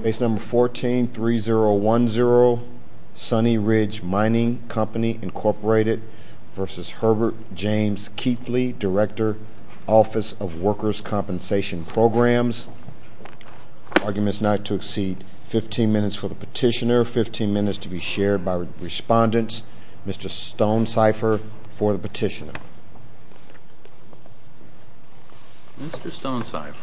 v. Herbert James Keathley, Director, Office of Workers' Compensation Programs. Arguments not to exceed 15 minutes for the petitioner, 15 minutes to be shared by respondents. Mr. Stonecipher for the petitioner. Mr. Stonecipher.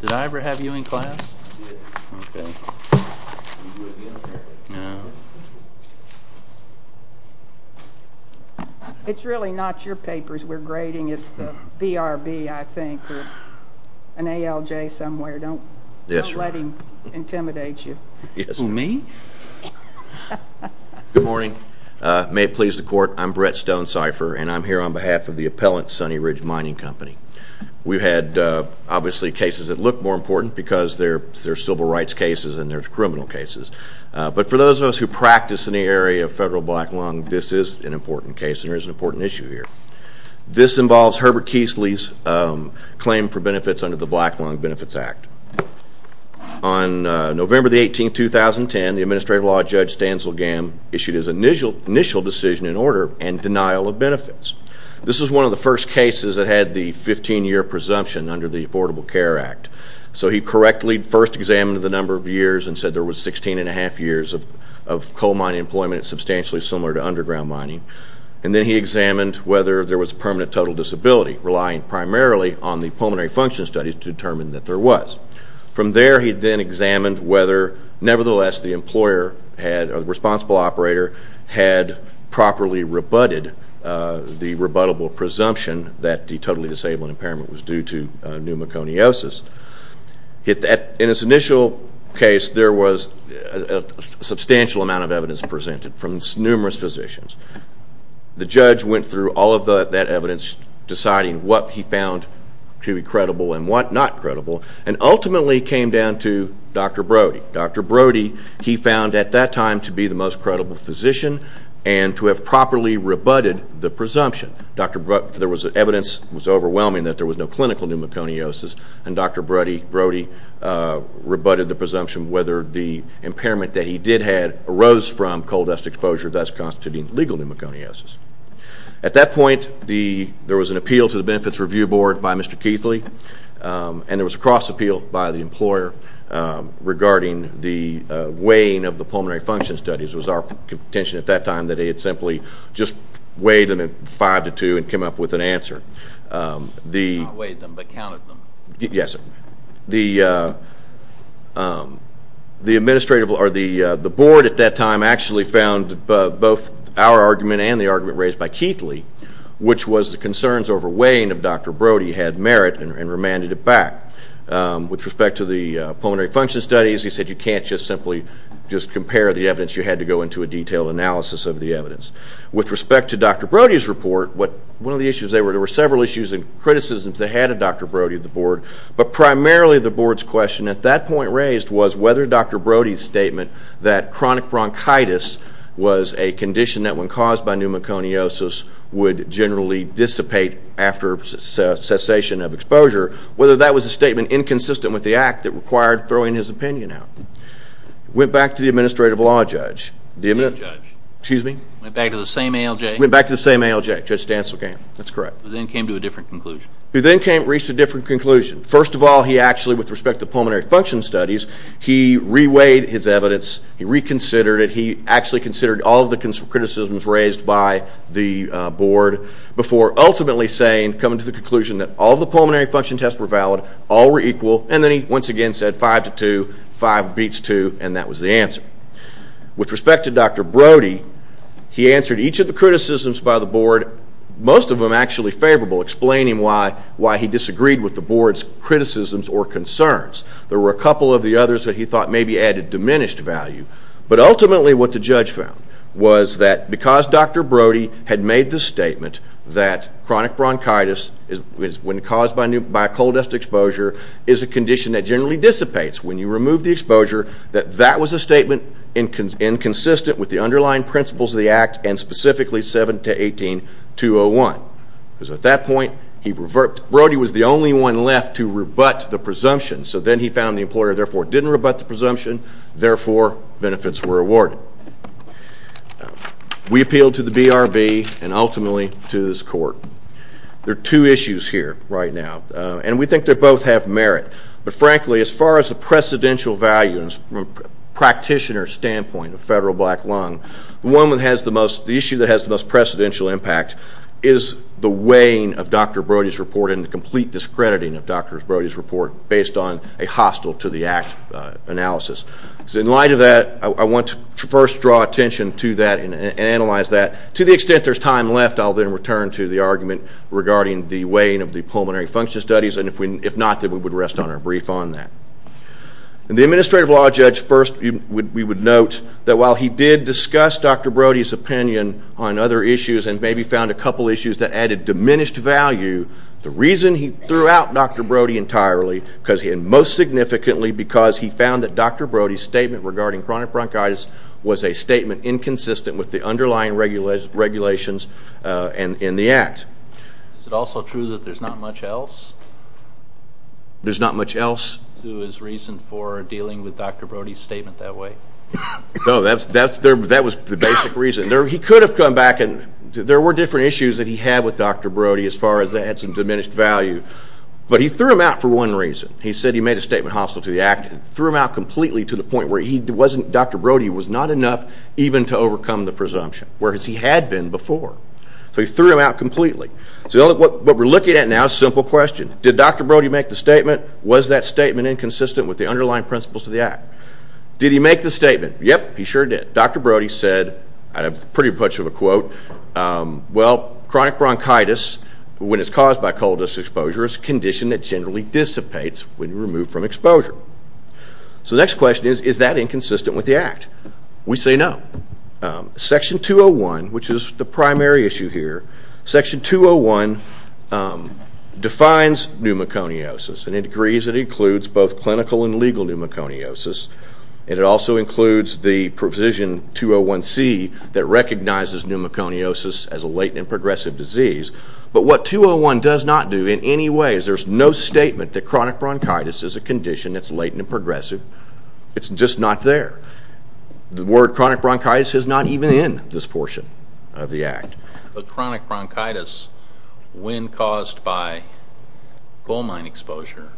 Did I ever have you in class? It's really not your papers we're grading. It's the BRB, I think. An ALJ somewhere. Don't let him intimidate you. Me? Good morning. May it please the court, I'm Brett Stonecipher and I'm here on behalf of the appellant, Sunny Ridge Mining Company. We've had, obviously, cases that look more important because there's civil rights cases and there's criminal cases. But for those of us who practice in the area of federal black lung, this is an important case and there is an important issue here. This involves Herbert Keithley's claim for benefits under the Black Lung Benefits Act. On November the 18th, 2010, the Administrative Law Judge Stansel Gamm issued his initial decision in order and denial of benefits. This is one of the first cases that had the 15-year presumption under the Affordable Care Act. So he correctly first examined the number of years and said there was 16 and a half years of coal mining employment substantially similar to underground mining. And then he examined whether there was permanent total disability, relying primarily on the pulmonary function studies to determine that there was. From there, he then examined whether, nevertheless, the employer or the responsible operator had properly rebutted the rebuttable presumption that the totally disabled impairment was due to pneumoconiosis. In this initial case, there was a substantial amount of evidence presented from numerous physicians. The judge went through all of that evidence, deciding what he found to be credible and what not credible, and ultimately came down to Dr. Brody. Dr. Brody, he found at that time to be the most credible physician and to have properly rebutted the presumption. There was evidence that was overwhelming that there was no clinical pneumoconiosis, and Dr. Brody rebutted the presumption whether the impairment that he did have arose from coal dust exposure, thus constituting legal pneumoconiosis. At that point, there was an appeal to the Benefits Review Board by Mr. Keithley, and there was a cross-appeal by the employer regarding the weighing of the pulmonary function studies. It was our contention at that time that he had simply just weighed them in five to two and come up with an answer. Not weighed them, but counted them. Yes, sir. The Board at that time actually found both our argument and the argument raised by Keithley, which was the concerns over weighing of Dr. Brody had merit and remanded it back. With respect to the pulmonary function studies, he said you can't just simply just compare the evidence. You had to go into a detailed analysis of the evidence. With respect to Dr. Brody's report, there were several issues and criticisms that had a Dr. Brody at the Board, but primarily the Board's question at that point raised was whether Dr. Brody's statement that chronic bronchitis was a condition that when caused by pneumoconiosis would generally dissipate after cessation of exposure, whether that was a statement inconsistent with the act that required throwing his opinion out. Went back to the administrative law judge. The administrative judge. Excuse me? Went back to the same ALJ. Went back to the same ALJ. Judge Stancil came. That's correct. Who then came to a different conclusion. Who then reached a different conclusion. First of all, he actually, with respect to the pulmonary function studies, he re-weighed his evidence. He reconsidered it. He actually considered all of the criticisms raised by the Board before ultimately saying, he came to the conclusion that all of the pulmonary function tests were valid, all were equal, and then he once again said five to two, five beats two, and that was the answer. With respect to Dr. Brody, he answered each of the criticisms by the Board, most of them actually favorable, explaining why he disagreed with the Board's criticisms or concerns. There were a couple of the others that he thought maybe added diminished value, but ultimately what the judge found was that because Dr. Brody had made the statement that chronic bronchitis, when caused by a coal dust exposure, is a condition that generally dissipates when you remove the exposure, that that was a statement inconsistent with the underlying principles of the Act, and specifically 7-18-201. At that point, Brody was the only one left to rebut the presumption, therefore benefits were awarded. We appealed to the BRB and ultimately to this Court. There are two issues here right now, and we think they both have merit, but frankly as far as the precedential value from a practitioner's standpoint of federal black lung, the issue that has the most precedential impact is the weighing of Dr. Brody's report and the complete discrediting of Dr. Brody's report based on a hostile-to-the-Act analysis. In light of that, I want to first draw attention to that and analyze that. To the extent there's time left, I'll then return to the argument regarding the weighing of the pulmonary function studies, and if not, then we would rest on our brief on that. The administrative law judge, first we would note that while he did discuss Dr. Brody's opinion on other issues and maybe found a couple issues that added diminished value, the reason he threw out Dr. Brody entirely and most significantly because he found that Dr. Brody's statement regarding chronic bronchitis was a statement inconsistent with the underlying regulations in the Act. Is it also true that there's not much else? There's not much else? To his reason for dealing with Dr. Brody's statement that way? No, that was the basic reason. He could have come back and there were different issues that he had with Dr. Brody as far as that had some diminished value. But he threw him out for one reason. He said he made a statement hostile to the Act and threw him out completely to the point where Dr. Brody was not enough even to overcome the presumption, whereas he had been before. So he threw him out completely. So what we're looking at now is a simple question. Did Dr. Brody make the statement? Was that statement inconsistent with the underlying principles of the Act? Did he make the statement? Yep, he sure did. Dr. Brody said, in pretty much of a quote, well, chronic bronchitis, when it's caused by cold disc exposure, is a condition that generally dissipates when removed from exposure. So the next question is, is that inconsistent with the Act? We say no. Section 201, which is the primary issue here, Section 201 defines pneumoconiosis, and it agrees it includes both clinical and legal pneumoconiosis. It also includes the provision 201C that recognizes pneumoconiosis as a latent and progressive disease. But what 201 does not do in any way is there's no statement that chronic bronchitis is a condition that's latent and progressive. It's just not there. The word chronic bronchitis is not even in this portion of the Act. But chronic bronchitis, when caused by coal mine exposure,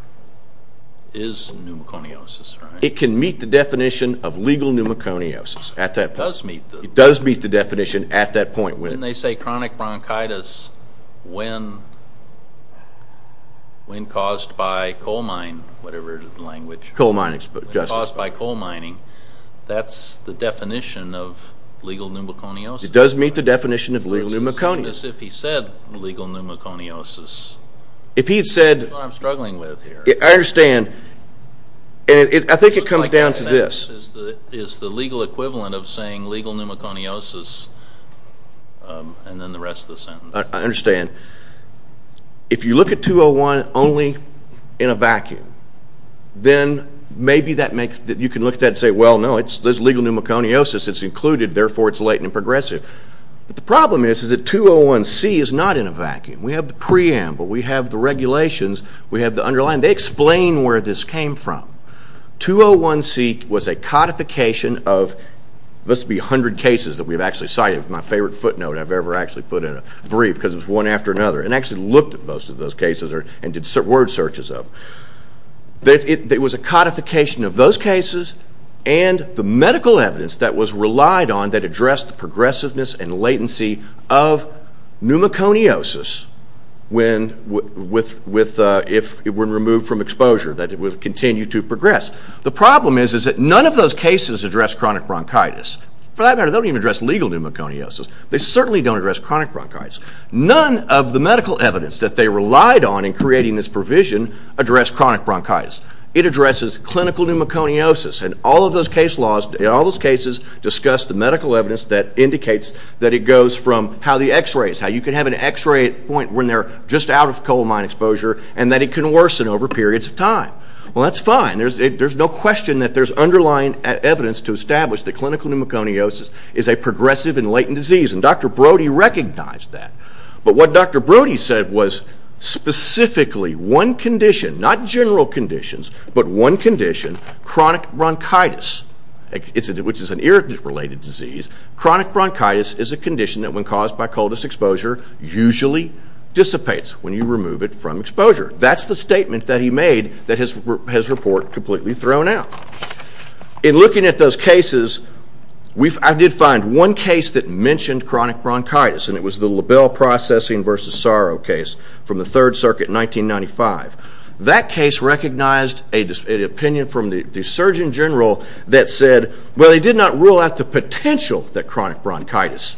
is pneumoconiosis, right? It can meet the definition of legal pneumoconiosis at that point. It does meet the definition. It does meet the definition at that point. When they say chronic bronchitis, when caused by coal mine, whatever the language. Coal mining exposure. Caused by coal mining. That's the definition of legal pneumoconiosis. It does meet the definition of legal pneumoconiosis. It's as if he said legal pneumoconiosis. That's what I'm struggling with here. I understand. I think it comes down to this. It's the legal equivalent of saying legal pneumoconiosis and then the rest of the sentence. I understand. If you look at 201 only in a vacuum, then maybe you can look at that and say, well, no, there's legal pneumoconiosis. It's included, therefore it's latent and progressive. But the problem is that 201C is not in a vacuum. We have the preamble. We have the regulations. We have the underlying. They explain where this came from. 201C was a codification of must be 100 cases that we've actually cited. It's my favorite footnote I've ever actually put in a brief because it's one after another. And actually looked at most of those cases and did word searches of. It was a codification of those cases and the medical evidence that was relied on that addressed the progressiveness and latency of pneumoconiosis if it were removed from exposure, that it would continue to progress. The problem is that none of those cases address chronic bronchitis. For that matter, they don't even address legal pneumoconiosis. They certainly don't address chronic bronchitis. None of the medical evidence that they relied on in creating this provision addressed chronic bronchitis. It addresses clinical pneumoconiosis. And all of those cases discuss the medical evidence that indicates that it goes from how the x-rays, how you can have an x-ray at a point when they're just out of coal mine exposure and that it can worsen over periods of time. Well, that's fine. There's no question that there's underlying evidence to establish that clinical pneumoconiosis is a progressive and latent disease. And Dr. Brody recognized that. But what Dr. Brody said was specifically one condition, not general conditions, but one condition, chronic bronchitis, which is an irritant-related disease. Chronic bronchitis is a condition that when caused by coldest exposure usually dissipates when you remove it from exposure. That's the statement that he made that has his report completely thrown out. In looking at those cases, I did find one case that mentioned chronic bronchitis, and it was the Label Processing versus Sorrow case from the Third Circuit in 1995. That case recognized an opinion from the surgeon general that said, well, he did not rule out the potential that chronic bronchitis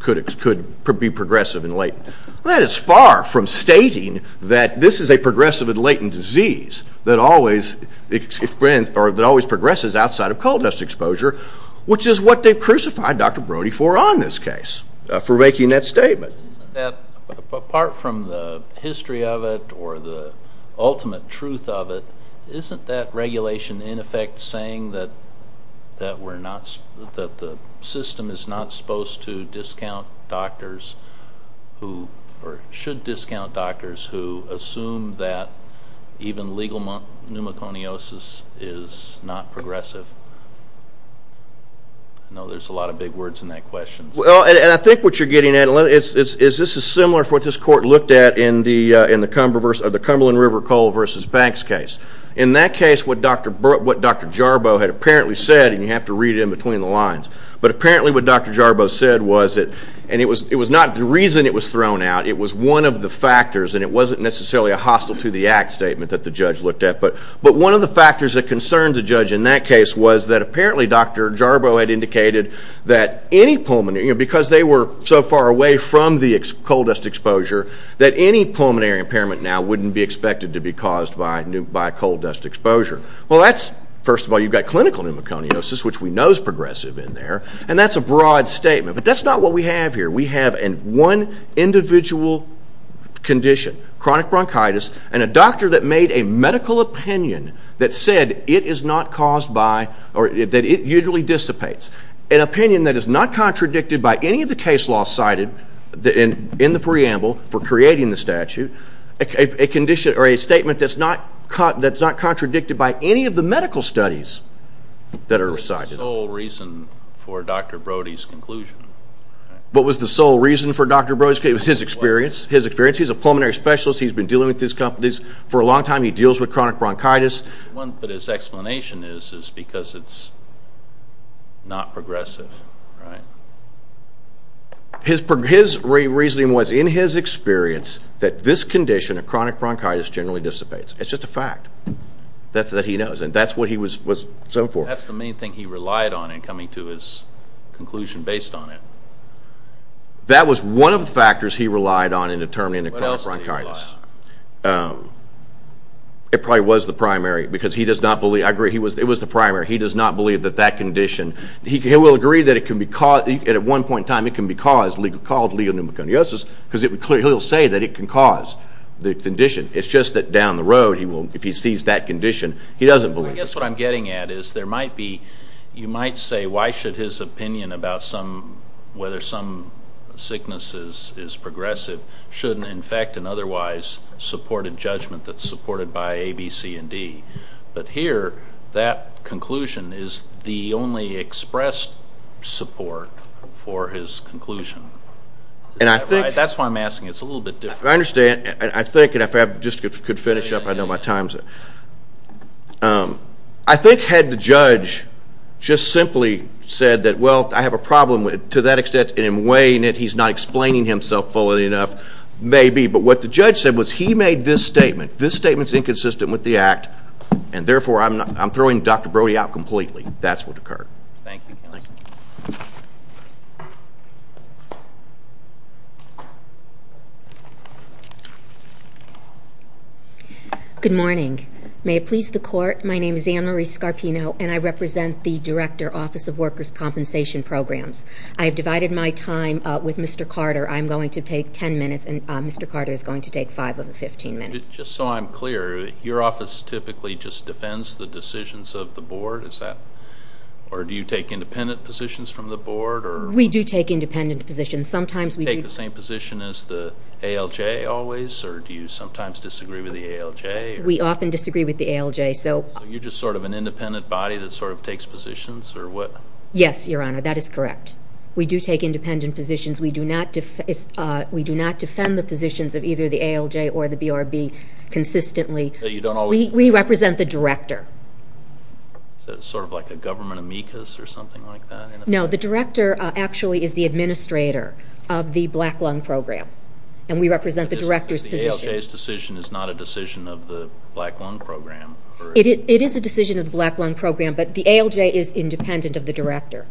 could be progressive and latent. That is far from stating that this is a progressive and latent disease that always progresses outside of coldest exposure, which is what they've crucified Dr. Brody for on this case, for making that statement. Apart from the history of it or the ultimate truth of it, isn't that regulation in effect saying that the system is not supposed to discount doctors or should discount doctors who assume that even legal pneumoconiosis is not progressive? I know there's a lot of big words in that question. Well, and I think what you're getting at is this is similar to what this court looked at in the Cumberland River Coal versus Banks case. In that case, what Dr. Jarboe had apparently said, and you have to read it in between the lines, but apparently what Dr. Jarboe said was that, and it was not the reason it was thrown out, it was one of the factors, and it wasn't necessarily a hostile to the act statement that the judge looked at, but one of the factors that concerned the judge in that case was that apparently Dr. Jarboe had indicated that any pulmonary, because they were so far away from the coal dust exposure, that any pulmonary impairment now wouldn't be expected to be caused by coal dust exposure. Well, first of all, you've got clinical pneumoconiosis, which we know is progressive in there, and that's a broad statement, but that's not what we have here. We have one individual condition, chronic bronchitis, and a doctor that made a medical opinion that said it is not caused by, or that it usually dissipates, an opinion that is not contradicted by any of the case laws cited in the preamble for creating the statute, a condition or a statement that's not contradicted by any of the medical studies that are cited. What was the sole reason for Dr. Brody's conclusion? What was the sole reason for Dr. Brody's conclusion? It was his experience. His experience. He's a pulmonary specialist. He's been dealing with these companies for a long time. He deals with chronic bronchitis. But his explanation is because it's not progressive, right? His reasoning was, in his experience, that this condition, chronic bronchitis, generally dissipates. It's just a fact. That's what he knows, and that's what he was going for. That's the main thing he relied on in coming to his conclusion based on it. That was one of the factors he relied on in determining chronic bronchitis. What else did he rely on? It probably was the primary, because he does not believe, I agree, it was the primary. He does not believe that that condition, he will agree that it can be caused, and at one point in time it can be caused, called legal pneumoconiosis, because he'll say that it can cause the condition. It's just that down the road, if he sees that condition, he doesn't believe it. I guess what I'm getting at is there might be, you might say, why should his opinion about whether some sickness is progressive shouldn't in fact and otherwise support a judgment that's supported by A, B, C, and D? But here, that conclusion is the only expressed support for his conclusion. That's why I'm asking. It's a little bit different. I understand. I think, and if I just could finish up, I know my time is up. I think had the judge just simply said that, well, I have a problem to that extent, and in weighing it he's not explaining himself fully enough, maybe. But what the judge said was he made this statement. This statement is inconsistent with the act, and therefore I'm throwing Dr. Brody out completely. That's what occurred. Thank you, Counselor. Good morning. May it please the Court, my name is Anne Marie Scarpino, and I represent the Director, Office of Workers' Compensation Programs. I have divided my time with Mr. Carter. I'm going to take 10 minutes, and Mr. Carter is going to take five of the 15 minutes. Just so I'm clear, your office typically just defends the decisions of the board? Or do you take independent positions from the board? We do take independent positions. Sometimes we do. Do you take the same position as the ALJ always, or do you sometimes disagree with the ALJ? We often disagree with the ALJ. So you're just sort of an independent body that sort of takes positions? Yes, Your Honor, that is correct. We do take independent positions. We do not defend the positions of either the ALJ or the BRB consistently. We represent the Director. Is that sort of like a government amicus or something like that? No, the Director actually is the administrator of the Black Lung Program, and we represent the Director's position. But the ALJ's decision is not a decision of the Black Lung Program? It is a decision of the Black Lung Program, but the ALJ is independent of the Director.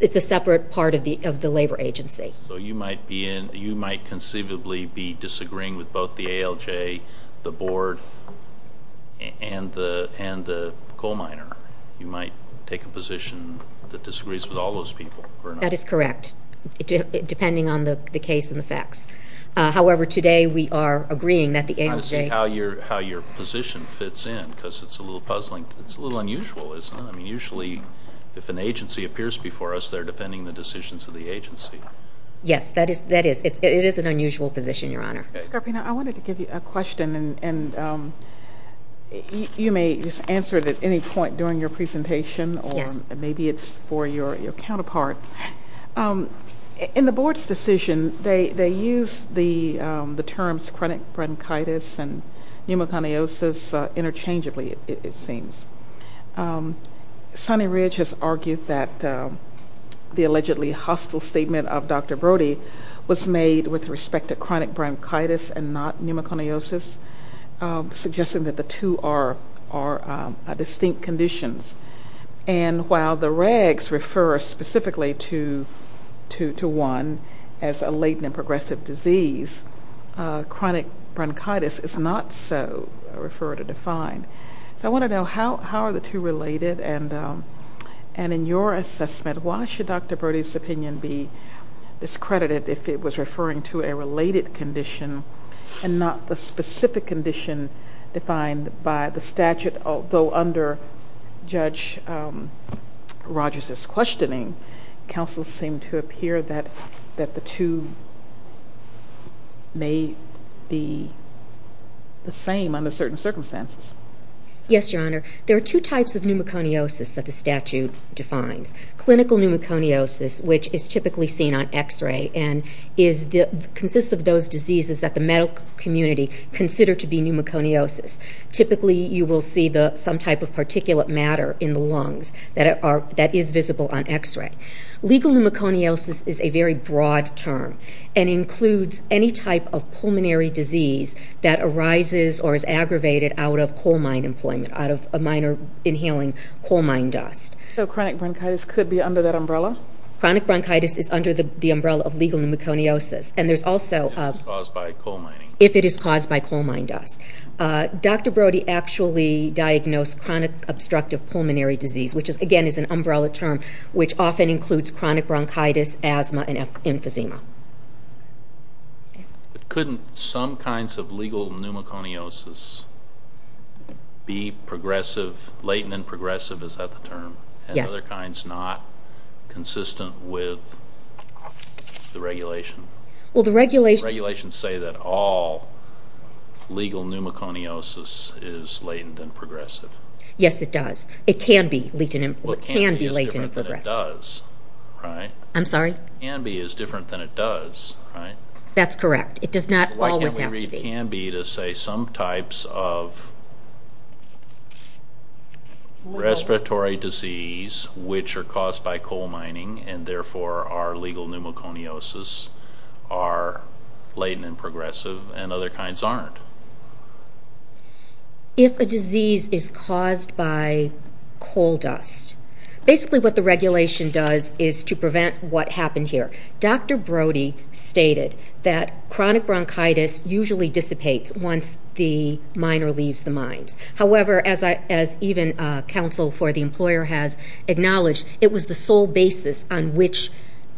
It's a separate part of the labor agency. So you might conceivably be disagreeing with both the ALJ, the board, and the coal miner. You might take a position that disagrees with all those people, or not? That is correct, depending on the case and the facts. However, today we are agreeing that the ALJ. I want to see how your position fits in, because it's a little puzzling. It's a little unusual, isn't it? Usually, if an agency appears before us, they're defending the decisions of the agency. Yes, that is. It is an unusual position, Your Honor. Ms. Carpino, I wanted to give you a question, and you may just answer it at any point during your presentation, or maybe it's for your counterpart. In the board's decision, they use the terms chronic bronchitis and pneumoconiosis interchangeably, it seems. Sonny Ridge has argued that the allegedly hostile statement of Dr. Brody was made with respect to chronic bronchitis and not pneumoconiosis, suggesting that the two are distinct conditions. And while the regs refer specifically to one as a latent and progressive disease, chronic bronchitis is not so referred or defined. So I want to know, how are the two related? And in your assessment, why should Dr. Brody's opinion be discredited if it was referring to a related condition and not the specific condition defined by the statute? Although under Judge Rogers' questioning, counsel seemed to appear that the two may be the same under certain circumstances. Yes, Your Honor. There are two types of pneumoconiosis that the statute defines. Clinical pneumoconiosis, which is typically seen on X-ray and consists of those diseases that the medical community consider to be pneumoconiosis. Typically, you will see some type of particulate matter in the lungs that is visible on X-ray. Legal pneumoconiosis is a very broad term and includes any type of pulmonary disease that arises or is aggravated out of coal mine employment, out of a miner inhaling coal mine dust. So chronic bronchitis could be under that umbrella? Chronic bronchitis is under the umbrella of legal pneumoconiosis. If it is caused by coal mining. Dr. Brody actually diagnosed chronic obstructive pulmonary disease, which again is an umbrella term which often includes chronic bronchitis, asthma, and emphysema. Couldn't some kinds of legal pneumoconiosis be progressive? Latent and progressive, is that the term? Yes. And other kinds not consistent with the regulation? Regulations say that all legal pneumoconiosis is latent and progressive. Yes, it does. It can be latent and progressive. Well, can be is different than it does, right? I'm sorry? Can be is different than it does, right? That's correct. It does not always have to be. Why can't we read can be to say some types of respiratory disease, which are caused by coal mining and therefore are legal pneumoconiosis, are latent and progressive and other kinds aren't? If a disease is caused by coal dust, basically what the regulation does is to prevent what happened here. Dr. Brody stated that chronic bronchitis usually dissipates once the miner leaves the mines. However, as even counsel for the employer has acknowledged, it was the sole basis on which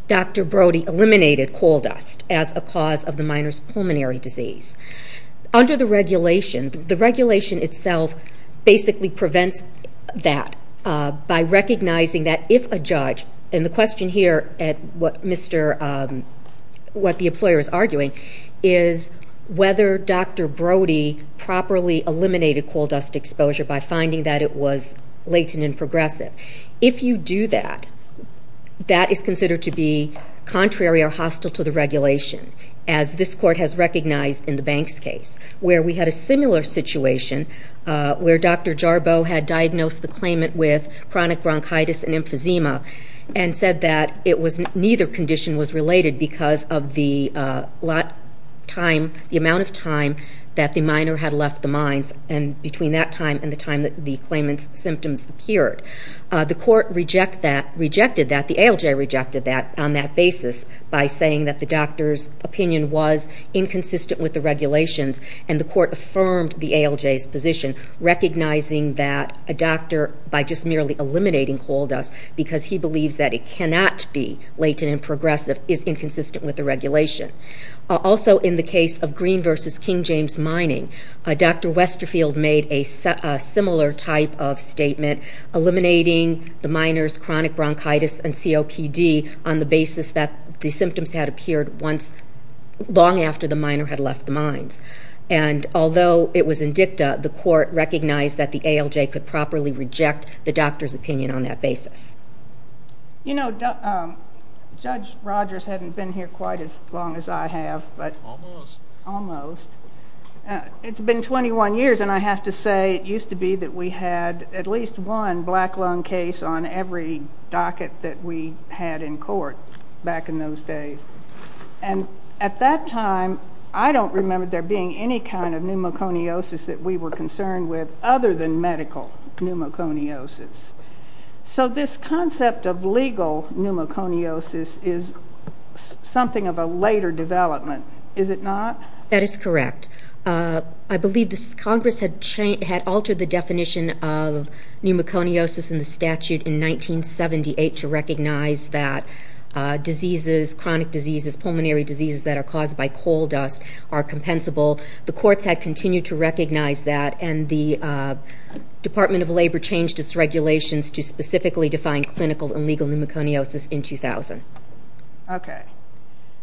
Dr. Brody eliminated coal dust as a cause of the miner's pulmonary disease. Under the regulation, the regulation itself basically prevents that by recognizing that if a judge, and the question here at what the employer is arguing, is whether Dr. Brody properly eliminated coal dust exposure by finding that it was latent and progressive. If you do that, that is considered to be contrary or hostile to the regulation, as this court has recognized in the Banks case, where we had a similar situation where Dr. Jarboe had diagnosed the claimant with chronic bronchitis and emphysema and said that neither condition was related because of the amount of time that the miner had left the mines and between that time and the time that the claimant's symptoms appeared. The court rejected that. The ALJ rejected that on that basis by saying that the doctor's opinion was inconsistent with the regulations, and the court affirmed the ALJ's position, recognizing that a doctor, by just merely eliminating coal dust, because he believes that it cannot be latent and progressive, is inconsistent with the regulation. Also, in the case of Green v. King James Mining, Dr. Westerfield made a similar type of statement, eliminating the miner's chronic bronchitis and COPD on the basis that the symptoms had appeared long after the miner had left the mines. And although it was in dicta, the court recognized that the ALJ could properly reject the doctor's opinion on that basis. You know, Judge Rogers hasn't been here quite as long as I have. Almost. Almost. It's been 21 years, and I have to say, it used to be that we had at least one black lung case on every docket that we had in court back in those days. And at that time, I don't remember there being any kind of pneumoconiosis that we were concerned with other than medical pneumoconiosis. So this concept of legal pneumoconiosis is something of a later development, is it not? That is correct. I believe Congress had altered the definition of pneumoconiosis in the statute in 1978 to recognize that diseases, chronic diseases, pulmonary diseases that are caused by coal dust are compensable. The courts had continued to recognize that, and the Department of Labor changed its regulations to specifically define clinical and legal pneumoconiosis in 2000. Okay.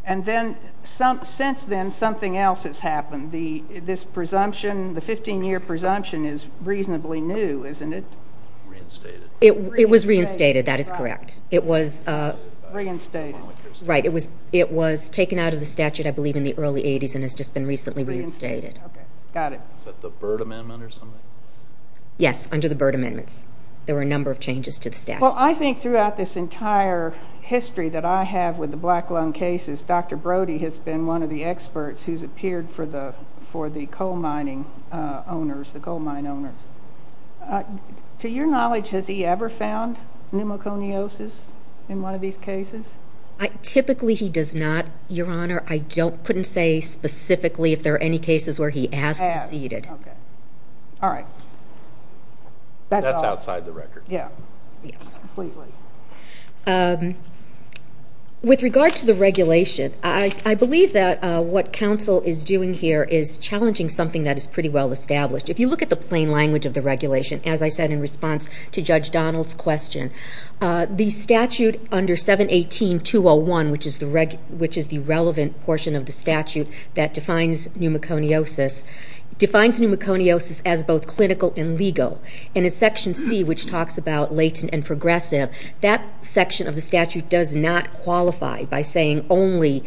And then since then, something else has happened. This presumption, the 15-year presumption, is reasonably new, isn't it? It was reinstated. That is correct. It was reinstated. Right. It was taken out of the statute, I believe, in the early 80s and has just been recently reinstated. Okay. Got it. Is that the Byrd Amendment or something? Yes, under the Byrd Amendments. There were a number of changes to the statute. Well, I think throughout this entire history that I have with the black lung cases, Dr. Brody has been one of the experts who's appeared for the coal mining owners, the coal mine owners. To your knowledge, has he ever found pneumoconiosis in one of these cases? Typically, he does not, Your Honor. I couldn't say specifically if there are any cases where he has conceded. Okay. All right. That's outside the record. Yeah. Yes. Completely. With regard to the regulation, I believe that what counsel is doing here is challenging something that is pretty well established. If you look at the plain language of the regulation, as I said in response to Judge Donald's question, the statute under 718.201, which is the relevant portion of the statute that defines pneumoconiosis, defines pneumoconiosis as both clinical and legal. And in Section C, which talks about latent and progressive, that section of the statute does not qualify by saying only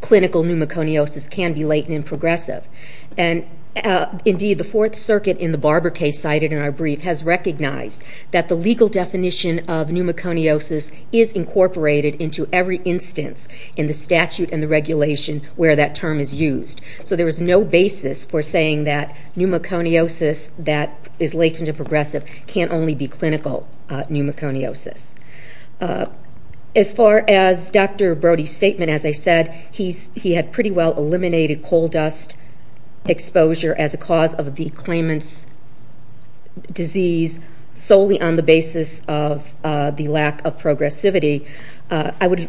clinical pneumoconiosis can be latent and progressive. And, indeed, the Fourth Circuit in the Barber case cited in our brief has recognized that the legal definition of pneumoconiosis is incorporated into every instance in the statute and the regulation where that term is used. So there is no basis for saying that pneumoconiosis that is latent and progressive can only be clinical pneumoconiosis. As far as Dr. Brody's statement, as I said, he had pretty well eliminated coal dust exposure as a cause of the claimant's disease solely on the basis of the lack of progressivity.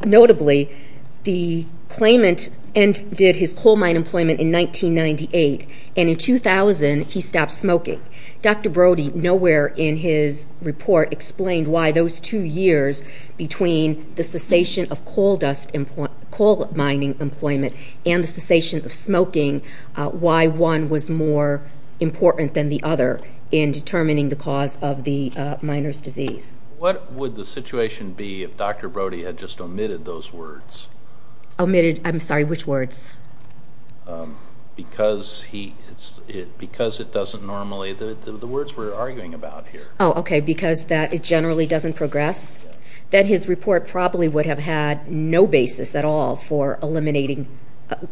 Notably, the claimant ended his coal mine employment in 1998, and in 2000, he stopped smoking. Dr. Brody nowhere in his report explained why those two years between the cessation of coal mining employment and the cessation of smoking, why one was more important than the other in determining the cause of the miner's disease. What would the situation be if Dr. Brody had just omitted those words? Omitted, I'm sorry, which words? Because it doesn't normally, the words we're arguing about here. Oh, okay, because it generally doesn't progress? Then his report probably would have had no basis at all for eliminating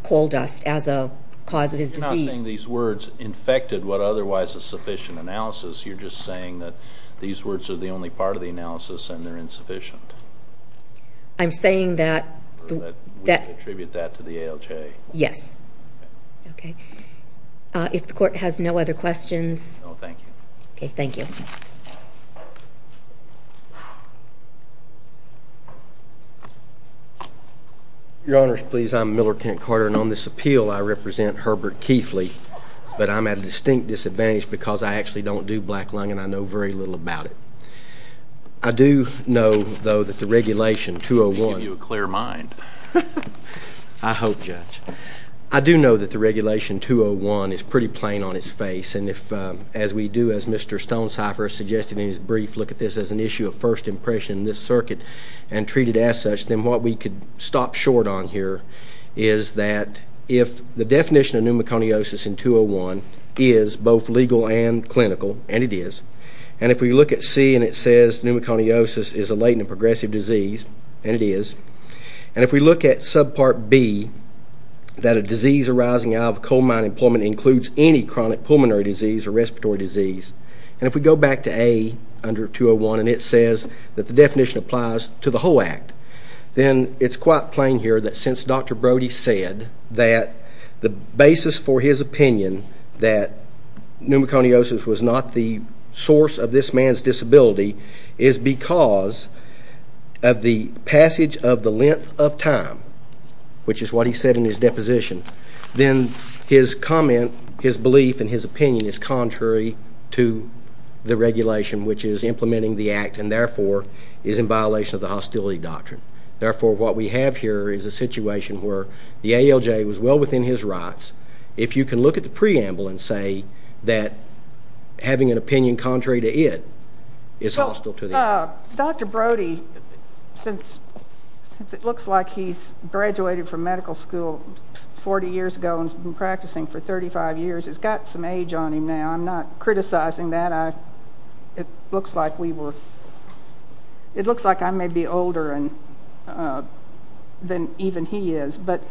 coal dust as a cause of his disease. You're not saying these words infected what otherwise is sufficient analysis. You're just saying that these words are the only part of the analysis and they're insufficient. I'm saying that. We attribute that to the ALJ. Yes. Okay. If the court has no other questions. No, thank you. Okay, thank you. Your Honors, please, I'm Miller Kent Carter, and on this appeal I represent Herbert Keithley, but I'm at a distinct disadvantage because I actually don't do black lung and I know very little about it. I do know, though, that the regulation 201. I should give you a clear mind. I hope, Judge. I do know that the regulation 201 is pretty plain on its face, and if, as we do, as Mr. Stonecipher suggested in his brief, look at this as an issue of first impression in this circuit and treat it as such, then what we could stop short on here is that if the definition of pneumoconiosis in 201 is both legal and clinical, and it is, and if we look at C and it says pneumoconiosis is a latent and progressive disease, and it is, and if we look at subpart B, that a disease arising out of coal mining and plumbing includes any chronic pulmonary disease or respiratory disease, and if we go back to A under 201 and it says that the definition applies to the whole act, then it's quite plain here that since Dr. Brody said that the basis for his opinion that pneumoconiosis was not the source of this man's disability is because of the passage of the length of time, which is what he said in his deposition, then his comment, his belief, and his opinion is contrary to the regulation, which is implementing the act and, therefore, is in violation of the hostility doctrine. Therefore, what we have here is a situation where the ALJ was well within his rights. If you can look at the preamble and say that having an opinion contrary to it is hostile to the act. Well, Dr. Brody, since it looks like he's graduated from medical school 40 years ago and has been practicing for 35 years, it's got some age on him now. I'm not criticizing that. It looks like I may be older than even he is, but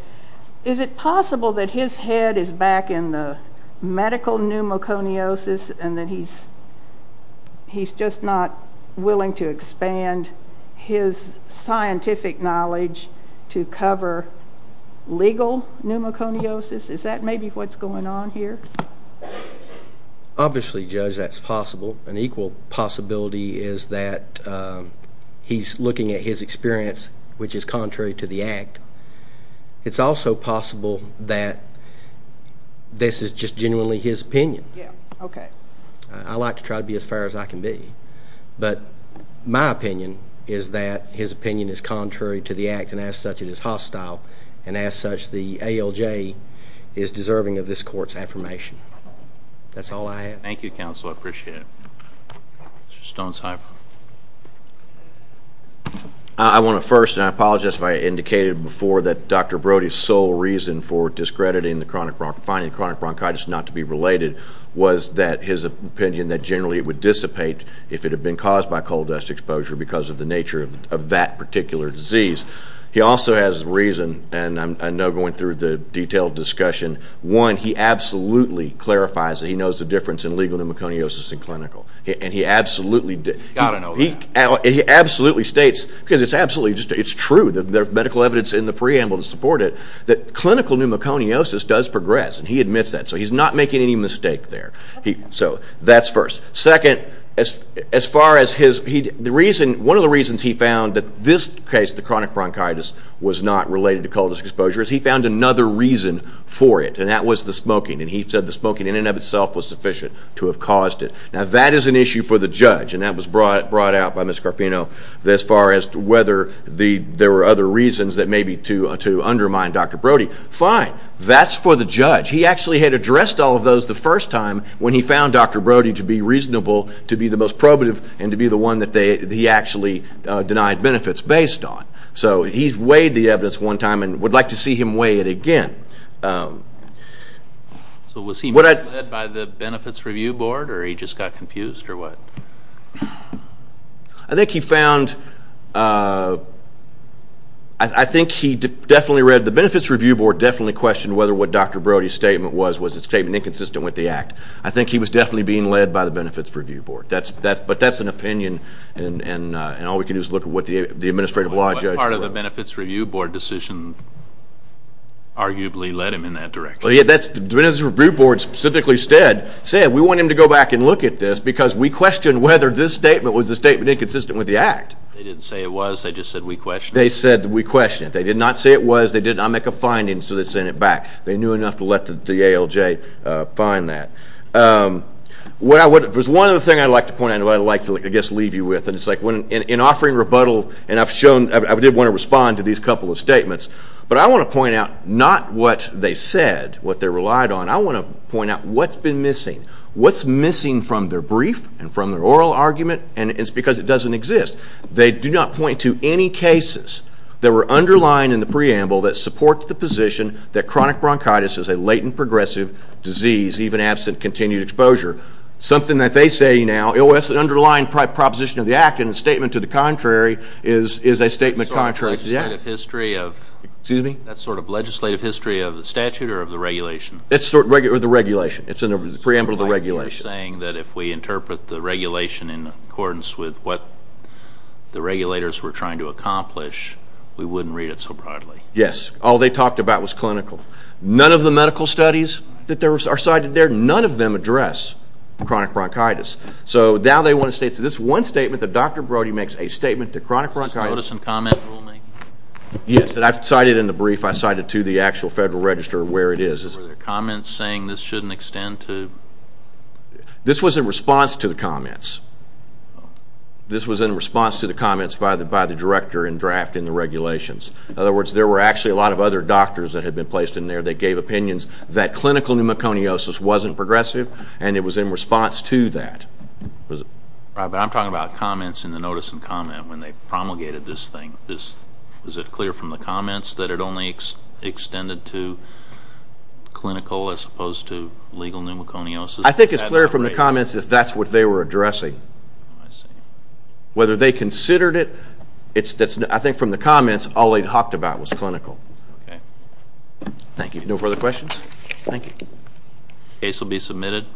is it possible that his head is back in the medical pneumoconiosis and that he's just not willing to expand his scientific knowledge to cover legal pneumoconiosis? Is that maybe what's going on here? Obviously, Judge, that's possible. An equal possibility is that he's looking at his experience, which is contrary to the act. It's also possible that this is just genuinely his opinion. I like to try to be as fair as I can be, but my opinion is that his opinion is contrary to the act and, as such, it is hostile, and, as such, the ALJ is deserving of this court's affirmation. That's all I have. Thank you, counsel. I appreciate it. Mr. Stonesifer. I want to first, and I apologize if I indicated before, that Dr. Brody's sole reason for finding chronic bronchitis not to be related was that his opinion that generally it would dissipate if it had been caused by coal dust exposure because of the nature of that particular disease. He also has reason, and I know going through the detailed discussion, one, he absolutely clarifies that he knows the difference in legal pneumoconiosis and clinical, and he absolutely states, because it's true, there's medical evidence in the preamble to support it, that clinical pneumoconiosis does progress, and he admits that, so he's not making any mistake there. So that's first. Second, one of the reasons he found that this case, the chronic bronchitis, was not related to coal dust exposure is he found another reason for it, and that was the smoking, and he said the smoking in and of itself was sufficient to have caused it. Now, that is an issue for the judge, and that was brought out by Ms. Carpino as far as whether there were other reasons that maybe to undermine Dr. Brody. Fine. That's for the judge. He actually had addressed all of those the first time when he found Dr. Brody to be reasonable, to be the most probative, and to be the one that he actually denied benefits based on. So he's weighed the evidence one time and would like to see him weigh it again. So was he led by the Benefits Review Board, or he just got confused, or what? I think he found, I think he definitely read, the Benefits Review Board definitely questioned whether what Dr. Brody's statement was was a statement inconsistent with the Act. I think he was definitely being led by the Benefits Review Board, but that's an opinion, and all we can do is look at what the administrative law judge wrote. What part of the Benefits Review Board decision arguably led him in that direction? The Benefits Review Board specifically said, we want him to go back and look at this because we questioned whether this statement was a statement inconsistent with the Act. They didn't say it was. They just said we questioned it. They said we questioned it. They did not say it was. They did not make a finding, so they sent it back. They knew enough to let the ALJ find that. There's one other thing I'd like to point out and what I'd like to, I guess, leave you with. In offering rebuttal, and I did want to respond to these couple of statements, but I want to point out not what they said, what they relied on. I want to point out what's been missing. What's missing from their brief and from their oral argument, and it's because it doesn't exist. They do not point to any cases that were underlined in the preamble that support the position that chronic bronchitis is a latent progressive disease, even absent continued exposure. Something that they say now, oh, that's an underlying proposition of the Act, and a statement to the contrary is a statement contrary to the Act. That's sort of legislative history of the statute or of the regulation? It's sort of the regulation. It's in the preamble to the regulation. You're saying that if we interpret the regulation in accordance with what the regulators were trying to accomplish, we wouldn't read it so broadly. Yes. All they talked about was clinical. None of the medical studies that are cited there, none of them address chronic bronchitis. So now they want to say it's this one statement that Dr. Brody makes, a statement to chronic bronchitis. Did you notice some comment rulemaking? Yes, and I cited in the brief, I cited to the actual Federal Register where it is. Were there comments saying this shouldn't extend to? This was in response to the comments. This was in response to the comments by the director in drafting the regulations. In other words, there were actually a lot of other doctors that had been placed in there. They gave opinions that clinical pneumoconiosis wasn't progressive, and it was in response to that. I'm talking about comments in the notice and comment when they promulgated this thing. Is it clear from the comments that it only extended to clinical as opposed to legal pneumoconiosis? I think it's clear from the comments that that's what they were addressing. I see. All they talked about was clinical. Thank you. No further questions? Thank you. The case will be submitted.